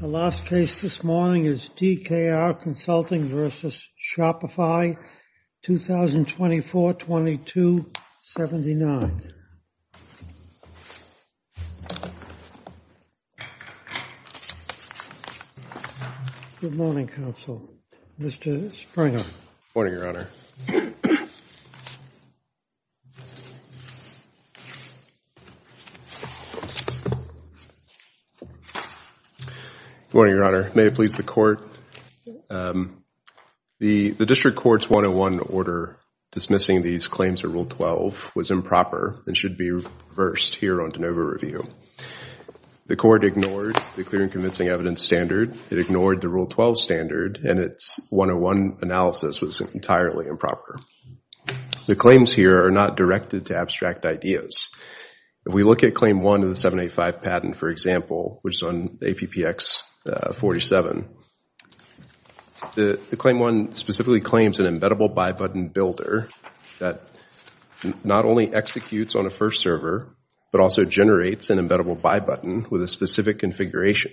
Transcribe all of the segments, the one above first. The last case this morning is DKR Consulting v. Shopify, 2024-22-79. Good morning, Counsel. Mr. Springer. Good morning, Your Honor. Good morning, Your Honor. May it please the Court? The District Court's 101 order dismissing these claims of Rule 12 was improper and should be reversed here on DeNova Review. The Court ignored the Clear and Convincing Evidence Standard, it ignored the Rule 12 Standard, and its 101 analysis was entirely improper. The claims here are not directed to abstract ideas. If we look at Claim 1 of the 785 patent, for example, which is on APPX 47, the Claim 1 specifically claims an embeddable buy button builder that not only executes on a first server, but also generates an embeddable buy button with a specific configuration,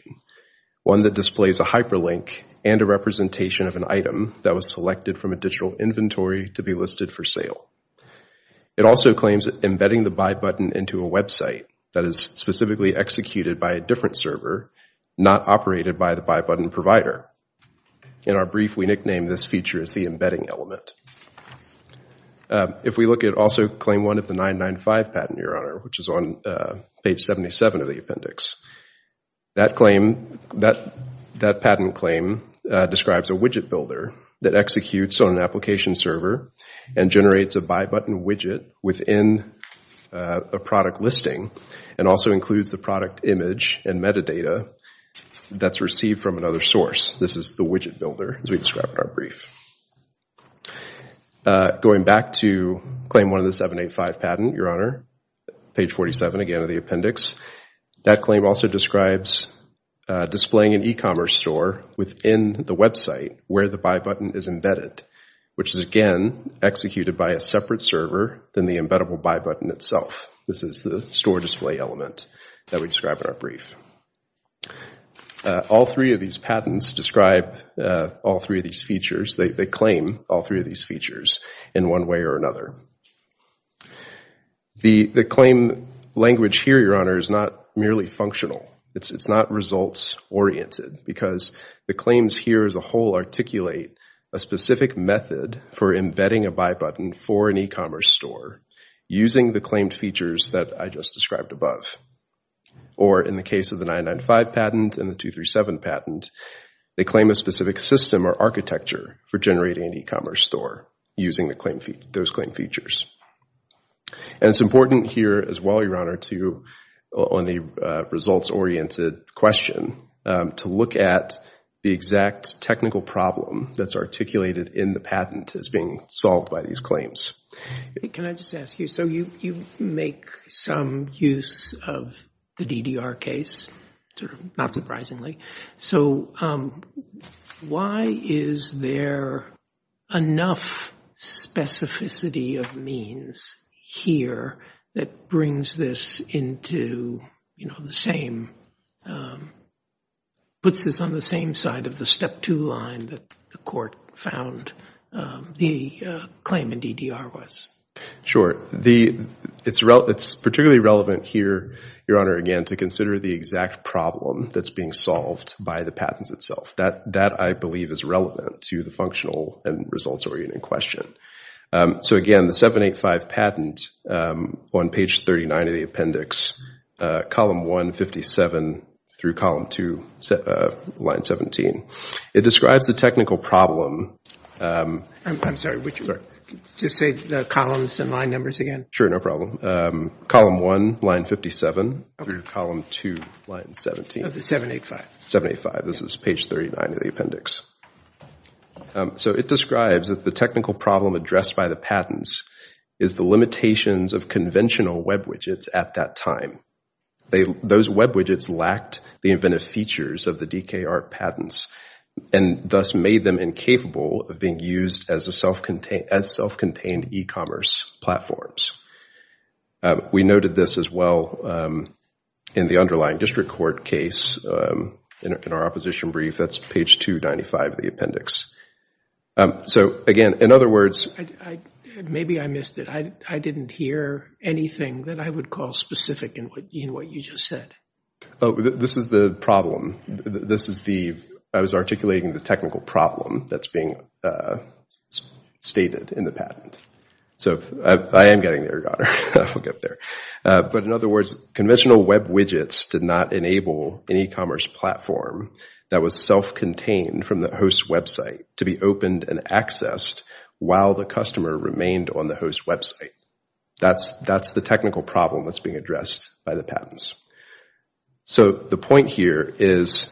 one that displays a hyperlink and a representation of an item that was selected from a digital inventory to be listed for sale. It also claims embedding the buy button into a website that is specifically executed by a different server, not operated by the buy button provider. In our brief, we nicknamed this feature as the embedding element. If we look at also Claim 1 of the 995 patent, Your Honor, which is on page 77 of the appendix, that patent claim describes a widget builder that executes on an application server and generates a buy button widget within a product listing and also includes the product image and metadata that's received from another source. This is the widget builder, as we described in our brief. Going back to Claim 1 of the 785 patent, Your Honor, page 47 again of the appendix, that claim also describes displaying an e-commerce store within the website where the buy button is embedded, which is, again, executed by a separate server than the embeddable buy button itself. This is the store display element that we described in our brief. All three of these patents describe all three of these features. They claim all three of these features in one way or another. The claim language here, Your Honor, is not merely functional. It's not results-oriented because the claims here as a whole articulate a specific method for embedding a buy button for an e-commerce store using the claimed features that I just described in the patent. They claim a specific system or architecture for generating an e-commerce store using those claimed features. It's important here as well, Your Honor, on the results-oriented question to look at the exact technical problem that's articulated in the patent as being solved by these claims. Can I just ask you, so you make some use of the DDR case, not surprisingly. So why is there enough specificity of means here that brings this into the same, puts this on the same side of the step two line that the court found the claim in DDR was? Sure. It's particularly relevant here, Your Honor, again, to consider the exact problem that's being solved by the patents itself. That, I believe, is relevant to the functional and results-oriented question. So again, the 785 patent on page 39 of the appendix, column 1, 57 through column 2, line 17, it describes the technical problem. I'm sorry, would you just say the columns and line numbers again? Sure, no problem. Column 1, line 57 through column 2, line 17. Of the 785. 785. This is page 39 of the appendix. So it describes that the technical problem addressed by the patents is the limitations of conventional web widgets at that time. Those web widgets lacked the inventive features of the DKR patents and thus made them incapable of being used as self-contained e-commerce platforms. We noted this as well in the underlying district court case in our opposition brief. That's page 295 of the appendix. So, again, in other words... Maybe I missed it. I didn't hear anything that I would call specific in what you just said. This is the problem. I was articulating the technical problem that's being stated in the patent. So I am getting there, Your Honor. I'll get there. But in other words, conventional web widgets did not enable an e-commerce platform that was self-contained from the host website to be opened and accessed while the customer remained on the host website. That's the technical problem that's being addressed by the patents. So the point here is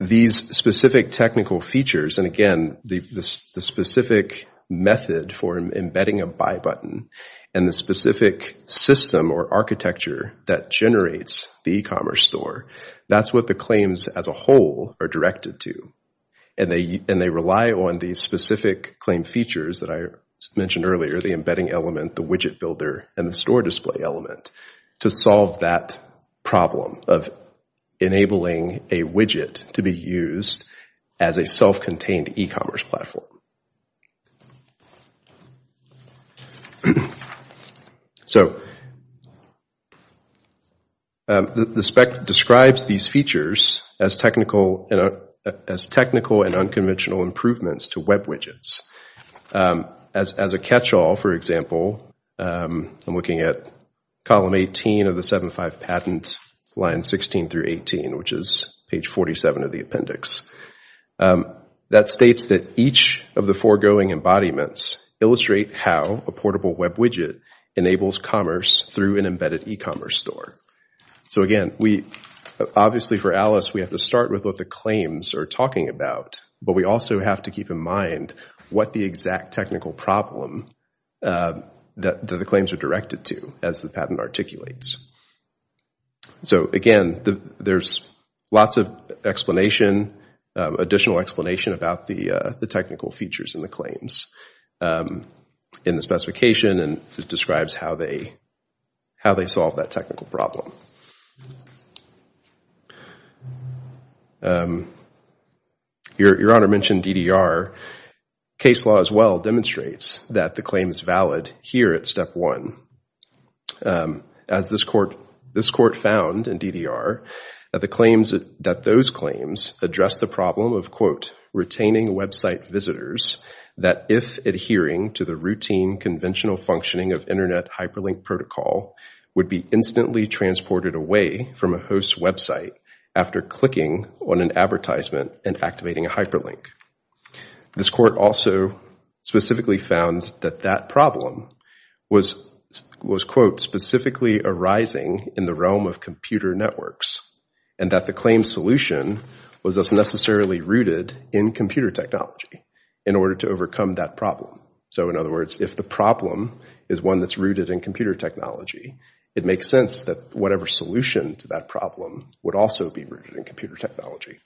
these specific technical features and, again, the specific method for embedding a buy button and the specific system or architecture that generates the e-commerce store, that's what the claims as a whole are directed to. And they rely on these specific claim features that I mentioned earlier, the embedding element, the widget builder and the store display element to solve that problem of enabling a widget to be used as a self-contained e-commerce platform. So the spec describes these features as technical and unconventional improvements to web widgets. As a catch-all, for example, I'm looking at column 18 of the 75 patent, lines 16 through 18, which is page 47 of the appendix. That states that each of the foregoing embodiments illustrate how a portable web widget enables commerce through an embedded e-commerce store. So again, obviously for Alice, we have to start with what the claims are talking about, but we also have to keep in mind what the exact technical problem that the claims are directed to as the patent articulates. So again, there's lots of explanation, additional explanation about the technical features in the claims in the specification and it describes how they solve that technical problem. Your Honor mentioned DDR. Case law as well demonstrates that the claim is valid here at step one. As this court found in DDR, that those claims address the problem of, quote, retaining website visitors that if adhering to the routine conventional functioning of from a host website after clicking on an advertisement and activating a hyperlink. This court also specifically found that that problem was, quote, specifically arising in the realm of computer networks and that the claim solution was thus necessarily rooted in computer technology in order to overcome that problem. So in other words, if the problem is one that's rooted in computer technology, it makes sense that whatever solution to that problem would also be rooted in computer technology.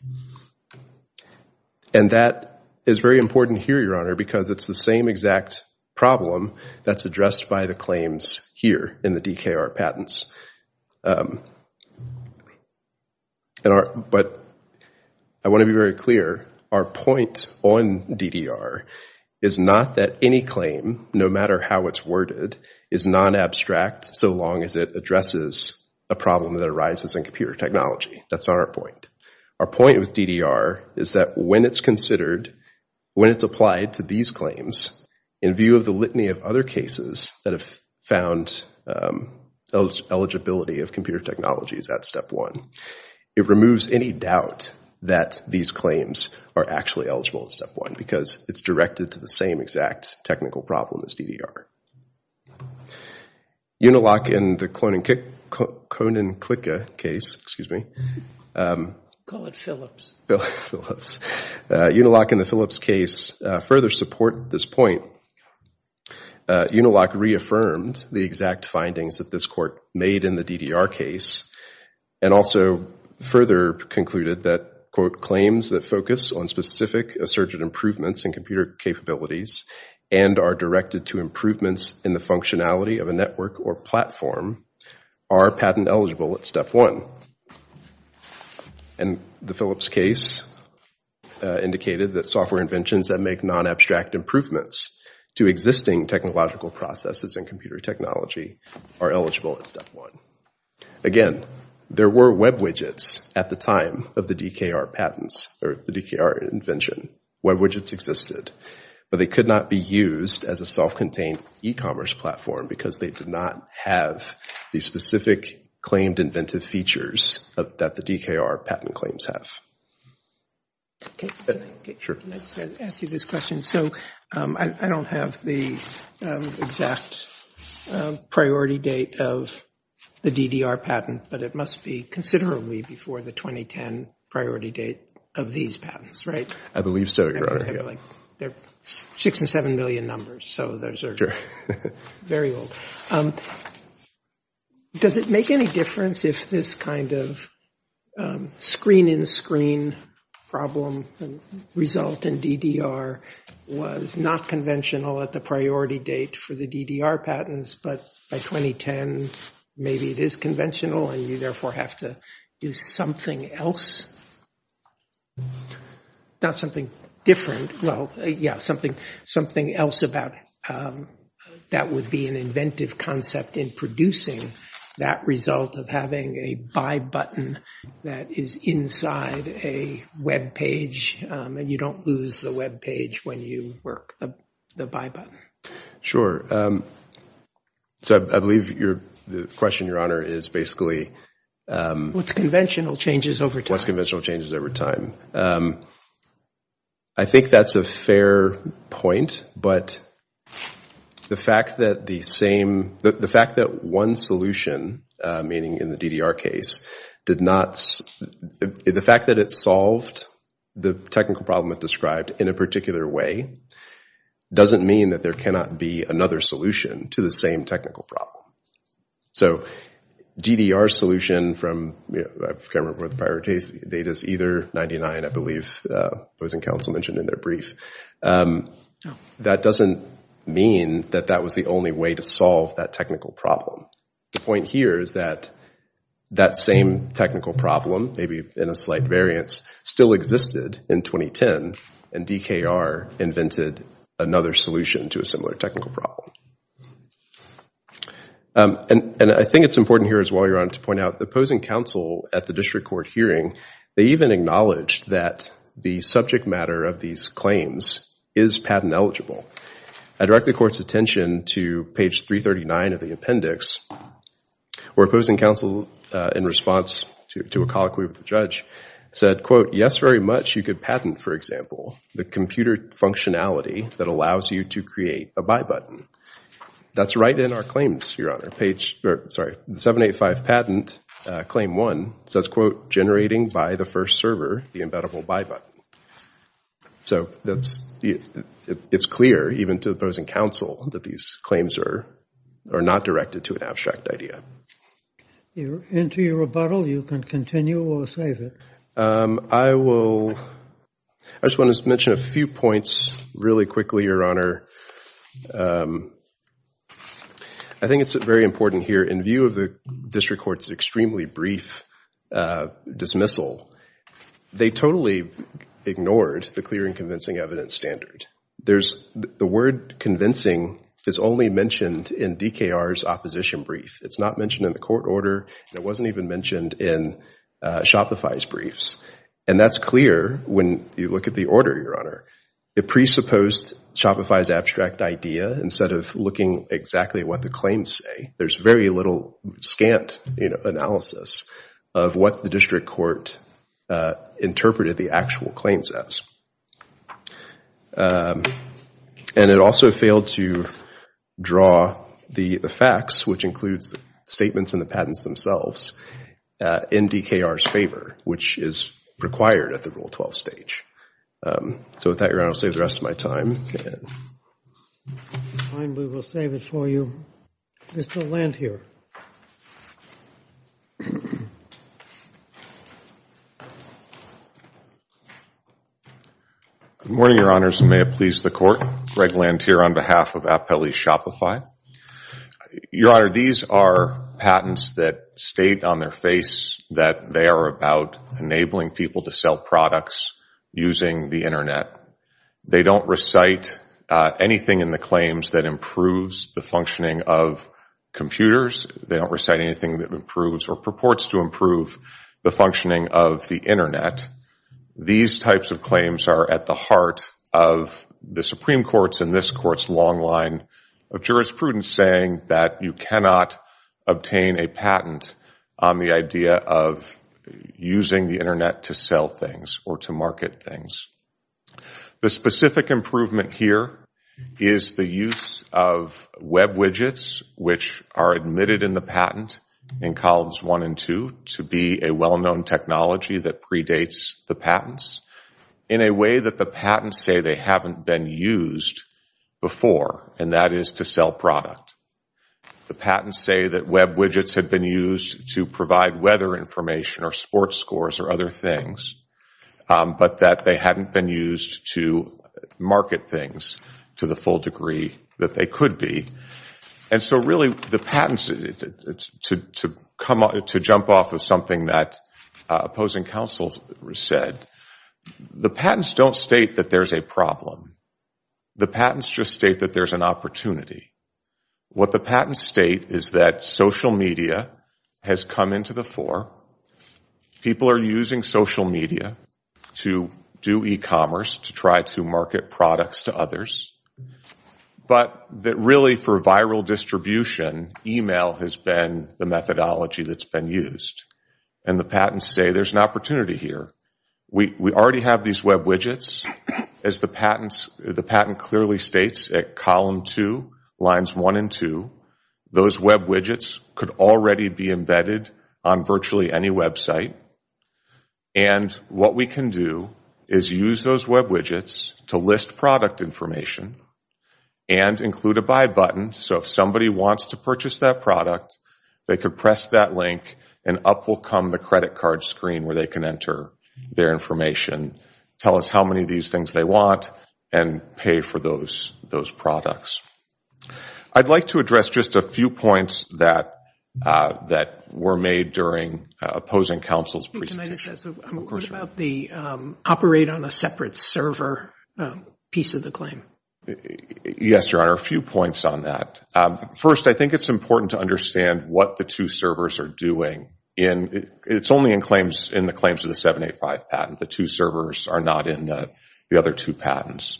And that is very important here, Your Honor, because it's the same exact problem that's addressed by the claims here in the DKR patents. But I want to be very clear, our point on DDR is not that any claim, no matter how it's worded, is non-abstract so long as it addresses a problem that arises in computer technology. That's not our point. Our point with DDR is that when it's considered, when it's applied to these claims, in view of the litany of other cases that have found eligibility of computer technologies at step one, it removes any doubt that these claims are actually eligible at step one because it's directed to the same exact technical problem as DDR. Uniloc in the Konin-Klicka case, excuse me. Call it Phillips. Uniloc in the Phillips case further supported this point. Uniloc reaffirmed the exact findings that this court made in the DDR case and also further concluded that, quote, claims that focus on specific assertive improvements in computer capabilities and are directed to improvements in the functionality of a network or platform are patent eligible at step one. And the Phillips case indicated that software inventions that make non-abstract improvements to existing technological processes in computer technology are eligible at step one. Again, there were web widgets at the time of the DKR patents, or the DKR invention. Web widgets existed. But they could not be used as a self-contained e-commerce platform because they did not have the specific claimed inventive features that the DKR patent claims have. Okay. Can I ask you this question? So I don't have the exact priority date of the DDR patent, but it must be considerably before the 2010 priority date of these patents, right? I believe so, Your Honor. They're 6 and 7 million numbers, so those are very old. Does it make any difference if this kind of screen-in-screen problem result in DDR was not conventional at the priority date for the DDR patents, but by 2010 maybe it is conventional and you therefore have to do something else? Not something different. Well, yeah, something else about that would be an inventive concept in producing that result of having a buy button that is inside a web page, and you don't lose the web page when you work the buy button. Sure. So I believe the question, Your Honor, is basically... What's conventional changes over time. What's conventional changes over time. I think that's a fair point, but the fact that one solution, meaning in the DDR case, did not... The fact that it solved the technical problem it described in a particular way doesn't mean that there cannot be another solution to the same technical problem. So DDR solution from... I can't remember what the priority date is. Either 99, I believe, the opposing counsel mentioned in their brief. That doesn't mean that that was the only way to solve that technical problem. The point here is that that same technical problem, maybe in a slight variance, still existed in 2010, and DKR invented another solution to a similar technical problem. And I think it's important here as well, Your Honor, to point out the opposing counsel at the district court hearing, they even acknowledged that the subject matter of these claims is patent eligible. I direct the court's attention to page 339 of the appendix, where opposing counsel, in response to a colloquy with the judge, said, Yes, very much, you could patent, for example, the computer functionality that allows you to create a buy button. That's right in our claims, Your Honor. The 785 patent, claim one, says, Generating by the first server the embeddable buy button. So it's clear, even to the opposing counsel, that these claims are not directed to an abstract idea. Enter your rebuttal. You can continue or save it. I just want to mention a few points really quickly, Your Honor. I think it's very important here. In view of the district court's extremely brief dismissal, they totally ignored the clear and convincing evidence standard. The word convincing is only mentioned in DKR's opposition brief. It's not mentioned in the court order. It wasn't even mentioned in Shopify's briefs. And that's clear when you look at the order, Your Honor. It presupposed Shopify's abstract idea instead of looking exactly at what the claims say. There's very little scant analysis of what the district court interpreted the actual claims as. And it also failed to draw the facts, which includes the statements and the patents themselves, in DKR's favor, which is required at the Rule 12 stage. So with that, Your Honor, I'll save the rest of my time. Fine. We will save it for you. Mr. Lantier. Good morning, Your Honors, and may it please the Court. Greg Lantier on behalf of Appelli Shopify. Your Honor, these are patents that state on their face that they are about enabling people to sell products using the Internet. They don't recite anything in the claims that improves the functioning of computers. They don't recite anything that improves or purports to improve the functioning of the Internet. These types of claims are at the heart of the Supreme Court's and this Court's long line of jurisprudence saying that you cannot obtain a patent on the idea of using the Internet to sell things or to market things. The specific improvement here is the use of Web widgets, which are admitted in the patent in columns one and two, to be a well-known technology that predates the patents in a way that the patents say they haven't been used before, and that is to sell product. The patents say that Web widgets have been used to provide weather information or sports scores or other things, but that they haven't been used to market things to the full degree that they could be. And so really the patents, to jump off of something that opposing counsel said, the patents don't state that there's a problem. The patents just state that there's an opportunity. What the patents state is that social media has come into the fore. People are using social media to do e-commerce to try to market products to others, but that really for viral distribution, e-mail has been the methodology that's been used. And the patents say there's an opportunity here. We already have these Web widgets. As the patent clearly states at column two, lines one and two, those Web widgets could already be embedded on virtually any website. And what we can do is use those Web widgets to list product information and include a buy button. So if somebody wants to purchase that product, they could press that link and up will come the credit card screen where they can enter their information, tell us how many of these things they want, and pay for those products. I'd like to address just a few points that were made during opposing counsel's presentation. What about the operate on a separate server piece of the claim? Yes, Your Honor, a few points on that. First, I think it's important to understand what the two servers are doing. It's only in the claims of the 785 patent. The two servers are not in the other two patents.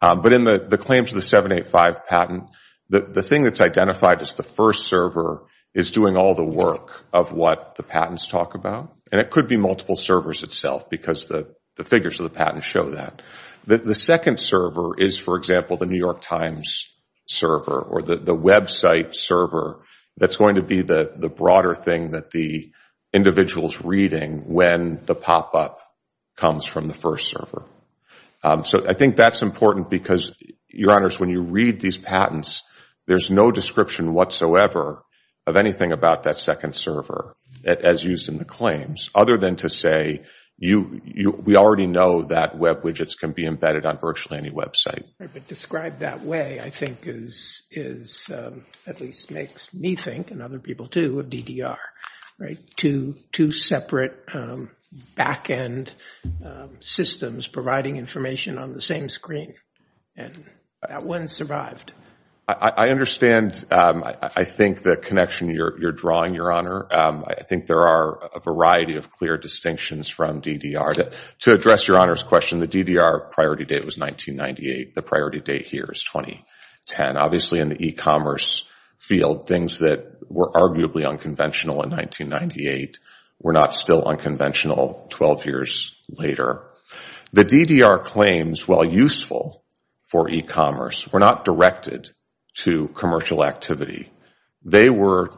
But in the claims of the 785 patent, the thing that's identified as the first server is doing all the work of what the patents talk about. And it could be multiple servers itself because the figures of the patent show that. The second server is, for example, the New York Times server or the website server that's going to be the broader thing that the individual is reading when the pop-up comes from the first server. So I think that's important because, Your Honors, when you read these patents, there's no description whatsoever of anything about that second server as used in the claims, other than to say we already know that web widgets can be embedded on virtually any website. Describe that way, I think, at least makes me think, and other people do, of DDR, two separate back-end systems providing information on the same screen. And that one survived. I understand, I think, the connection you're drawing, Your Honor. I think there are a variety of clear distinctions from DDR. To address Your Honor's question, the DDR priority date was 1998. The priority date here is 2010. Obviously, in the e-commerce field, things that were arguably unconventional in 1998 were not still unconventional 12 years later. The DDR claims, while useful for e-commerce, were not directed to commercial activity. They were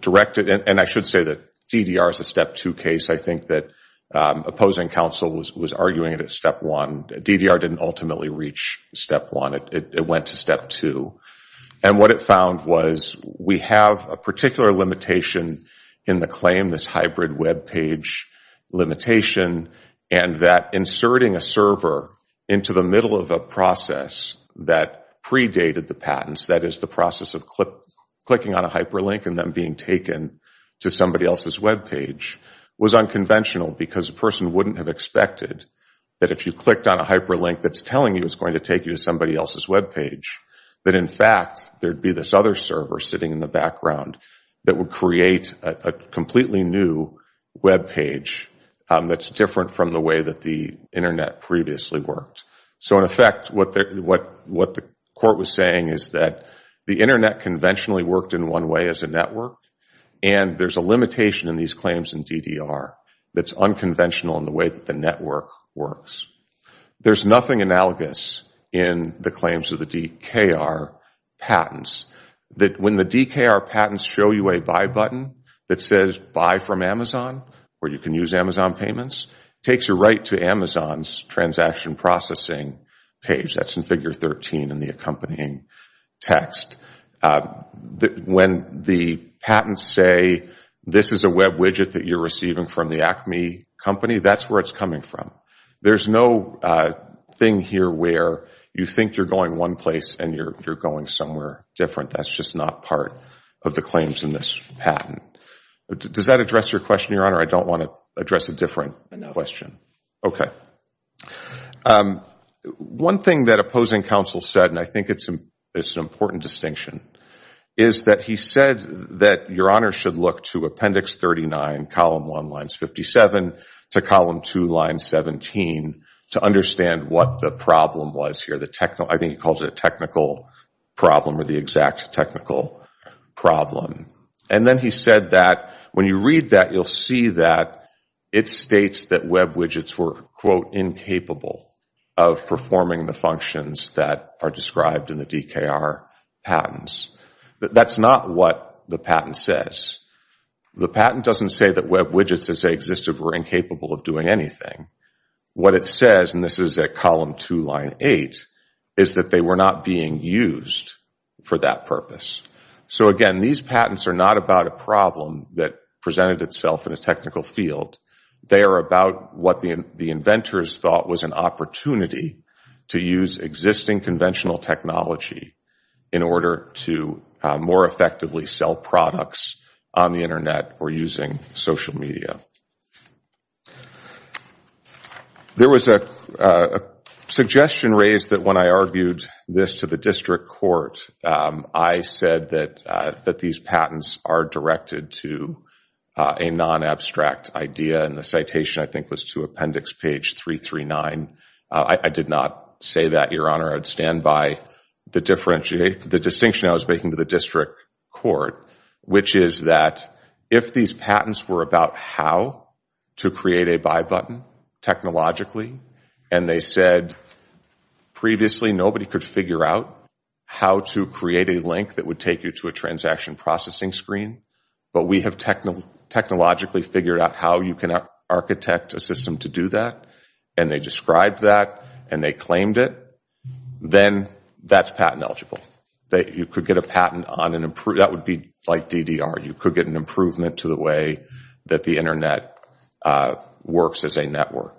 directed, and I should say that DDR is a Step 2 case. I think that opposing counsel was arguing it as Step 1. DDR didn't ultimately reach Step 1. It went to Step 2. And what it found was we have a particular limitation in the claim, this hybrid webpage limitation, and that inserting a server into the middle of a process that predated the patents, that is the process of clicking on a hyperlink and then being taken to somebody else's webpage, was unconventional because a person wouldn't have expected that if you clicked on a hyperlink, that's telling you it's going to take you to somebody else's webpage. That, in fact, there would be this other server sitting in the background that would create a completely new webpage that's different from the way that the Internet previously worked. So, in effect, what the court was saying is that the Internet conventionally worked in one way as a network, and there's a limitation in these claims in DDR that's unconventional in the way that the network works. There's nothing analogous in the claims of the DKR patents that when the DKR patents show you a buy button that says buy from Amazon, where you can use Amazon payments, it takes you right to Amazon's transaction processing page. That's in Figure 13 in the accompanying text. When the patents say, this is a web widget that you're receiving from the Acme company, that's where it's coming from. There's no thing here where you think you're going one place and you're going somewhere different. That's just not part of the claims in this patent. Does that address your question, Your Honor? I don't want to address a different question. Okay. One thing that opposing counsel said, and I think it's an important distinction, is that he said that Your Honor should look to Appendix 39, column 1, lines 57 to column 2, line 17, to understand what the problem was here. I think he calls it a technical problem or the exact technical problem. And then he said that when you read that, you'll see that it states that web widgets were, quote, incapable of performing the functions that are described in the DKR patents. That's not what the patent says. The patent doesn't say that web widgets, as they existed, were incapable of doing anything. What it says, and this is at column 2, line 8, is that they were not being used for that purpose. So again, these patents are not about a problem that presented itself in a technical field. They are about what the inventors thought was an opportunity to use existing conventional technology in order to more effectively sell products on the Internet or using social media. There was a suggestion raised that when I argued this to the district court, I said that these patents are directed to a non-abstract idea, and the citation, I think, was to Appendix page 339. I did not say that, Your Honor. I would stand by the distinction I was making to the district court, which is that if these patents were about how to create a buy button technologically, and they said previously nobody could figure out how to create a link that would take you to a transaction processing screen, but we have technologically figured out how you can architect a system to do that, and they described that, and they claimed it, then that is patent eligible. You could get a patent on an improvement. That would be like DDR. You could get an improvement to the way that the Internet works as a network.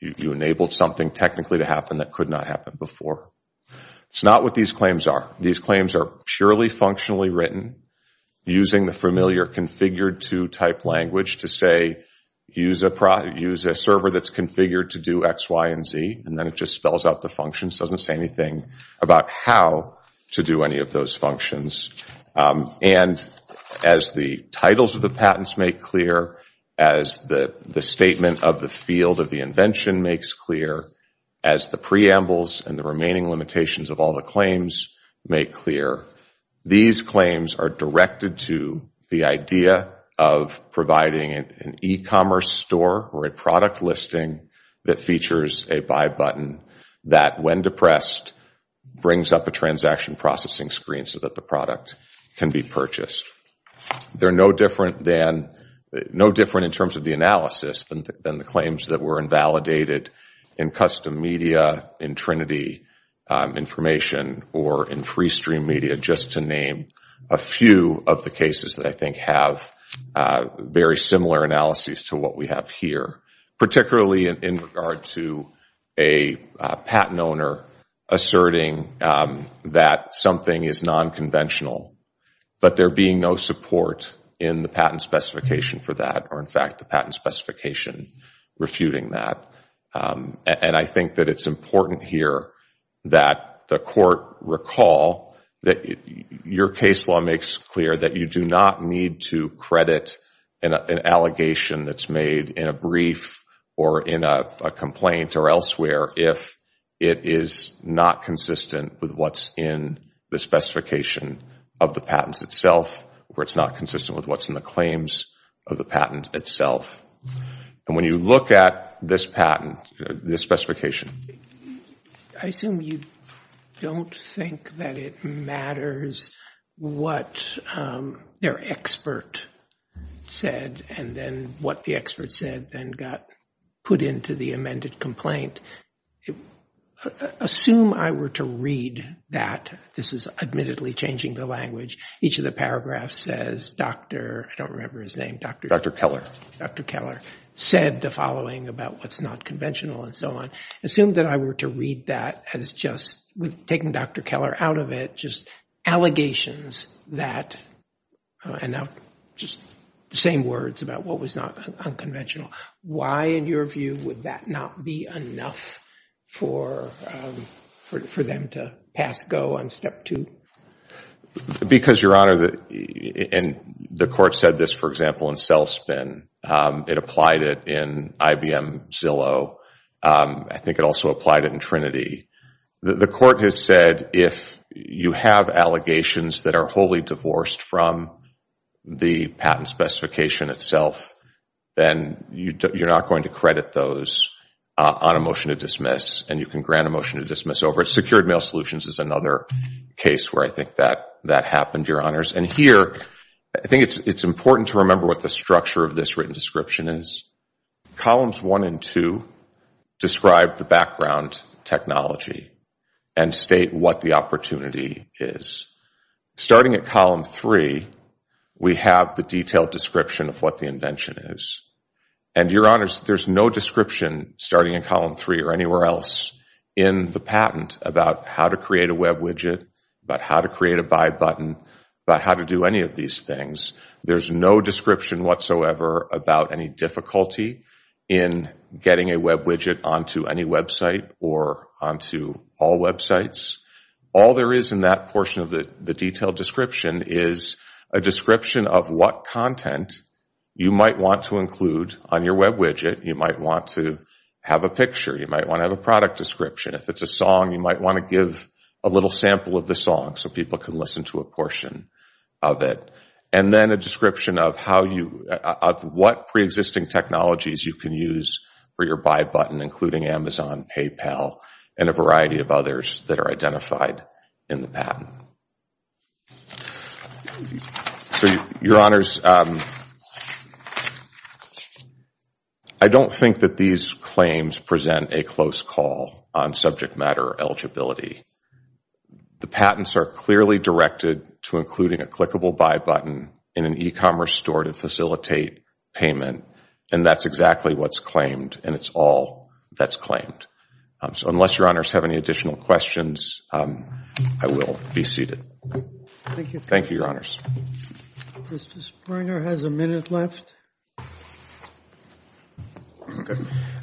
You enabled something technically to happen that could not happen before. It is not what these claims are. These claims are purely functionally written using the familiar configured to type language to say use a server that is configured to do X, Y, and Z, and then it just spells out the functions, does not say anything about how to do any of those functions. And as the titles of the patents make clear, as the statement of the field of the invention makes clear, as the preambles and the remaining limitations of all the claims make clear, these claims are directed to the idea of providing an e-commerce store or a product listing that features a buy button that, when depressed, brings up a transaction processing screen so that the product can be purchased. They are no different in terms of the analysis than the claims that were invalidated in custom media, in Trinity information, or in free stream media, just to name a few of the cases that I think have very similar analyses to what we have here, particularly in regard to a patent owner asserting that something is nonconventional, but there being no support in the patent specification for that or, in fact, the patent specification refuting that. And I think that it is important here that the court recall that your case law makes clear that you do not need to credit an allegation that's made in a brief or in a complaint or elsewhere if it is not consistent with what's in the specification of the patents itself, or it's not consistent with what's in the claims of the patent itself. And when you look at this patent, this specification... I assume you don't think that it matters what their expert said and then what the expert said then got put into the amended complaint. Assume I were to read that. This is admittedly changing the language. Each of the paragraphs says, I don't remember his name. Dr. Keller. Dr. Keller said the following about what's not conventional and so on. Assume that I were to read that as just, with taking Dr. Keller out of it, just allegations that, and now just the same words about what was not unconventional. Why, in your view, would that not be enough for them to pass go on step two? Because, Your Honor, and the court said this, for example, it applied it in IBM Zillow. I think it also applied it in Trinity. The court has said if you have allegations that are wholly divorced from the patent specification itself, then you're not going to credit those on a motion to dismiss, and you can grant a motion to dismiss over it. Secured mail solutions is another case where I think that happened, Your Honors. And here, I think it's important to remember what the structure of this written description is. Columns one and two describe the background technology and state what the opportunity is. Starting at column three, we have the detailed description of what the invention is. And, Your Honors, there's no description starting in column three or anywhere else in the patent about how to create a web widget, about how to create a buy button, about how to do any of these things. There's no description whatsoever about any difficulty in getting a web widget onto any website or onto all websites. All there is in that portion of the detailed description is a description of what content you might want to include on your web widget. You might want to have a picture. You might want to have a product description. If it's a song, you might want to give a little sample of the song so people can listen to a portion of it. And then a description of what preexisting technologies you can use for your buy button, including Amazon, PayPal, and a variety of others that are identified in the patent. Your Honors, I don't think that these claims present a close call on subject matter eligibility. The patents are clearly directed to including a clickable buy button in an e-commerce store to facilitate payment, and that's exactly what's claimed, and it's all that's claimed. So unless Your Honors have any additional questions, I will be seated. Thank you, Your Honors. Mr. Springer has a minute left.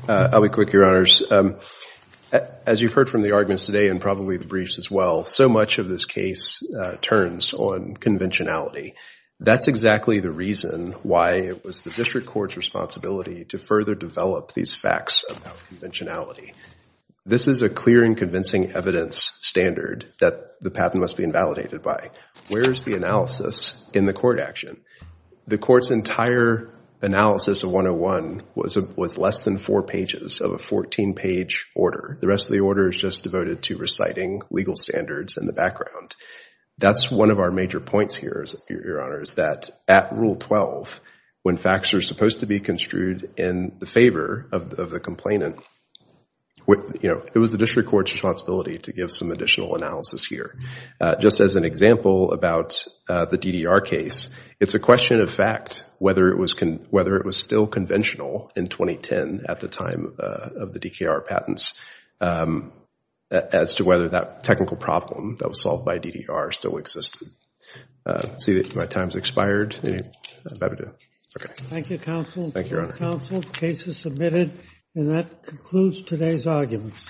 I'll be quick, Your Honors. As you've heard from the arguments today and probably the briefs as well, so much of this case turns on conventionality. That's exactly the reason why it was the district court's responsibility to further develop these facts about conventionality. This is a clear and convincing evidence standard that the patent must be invalidated by. Where is the analysis in the court action? The court's entire analysis of 101 was less than four pages of a 14-page order. The rest of the order is just devoted to reciting legal standards in the background. That's one of our major points here, Your Honors, that at Rule 12, when facts are supposed to be construed in the favor of the complainant, it was the district court's responsibility to give some additional analysis here. Just as an example about the DDR case, it's a question of fact whether it was still conventional in 2010 at the time of the DKR patents as to whether that technical problem that was solved by DDR still existed. I see that my time has expired. Thank you, Counsel. Thank you, Your Honor. The case is submitted, and that concludes today's arguments. All rise.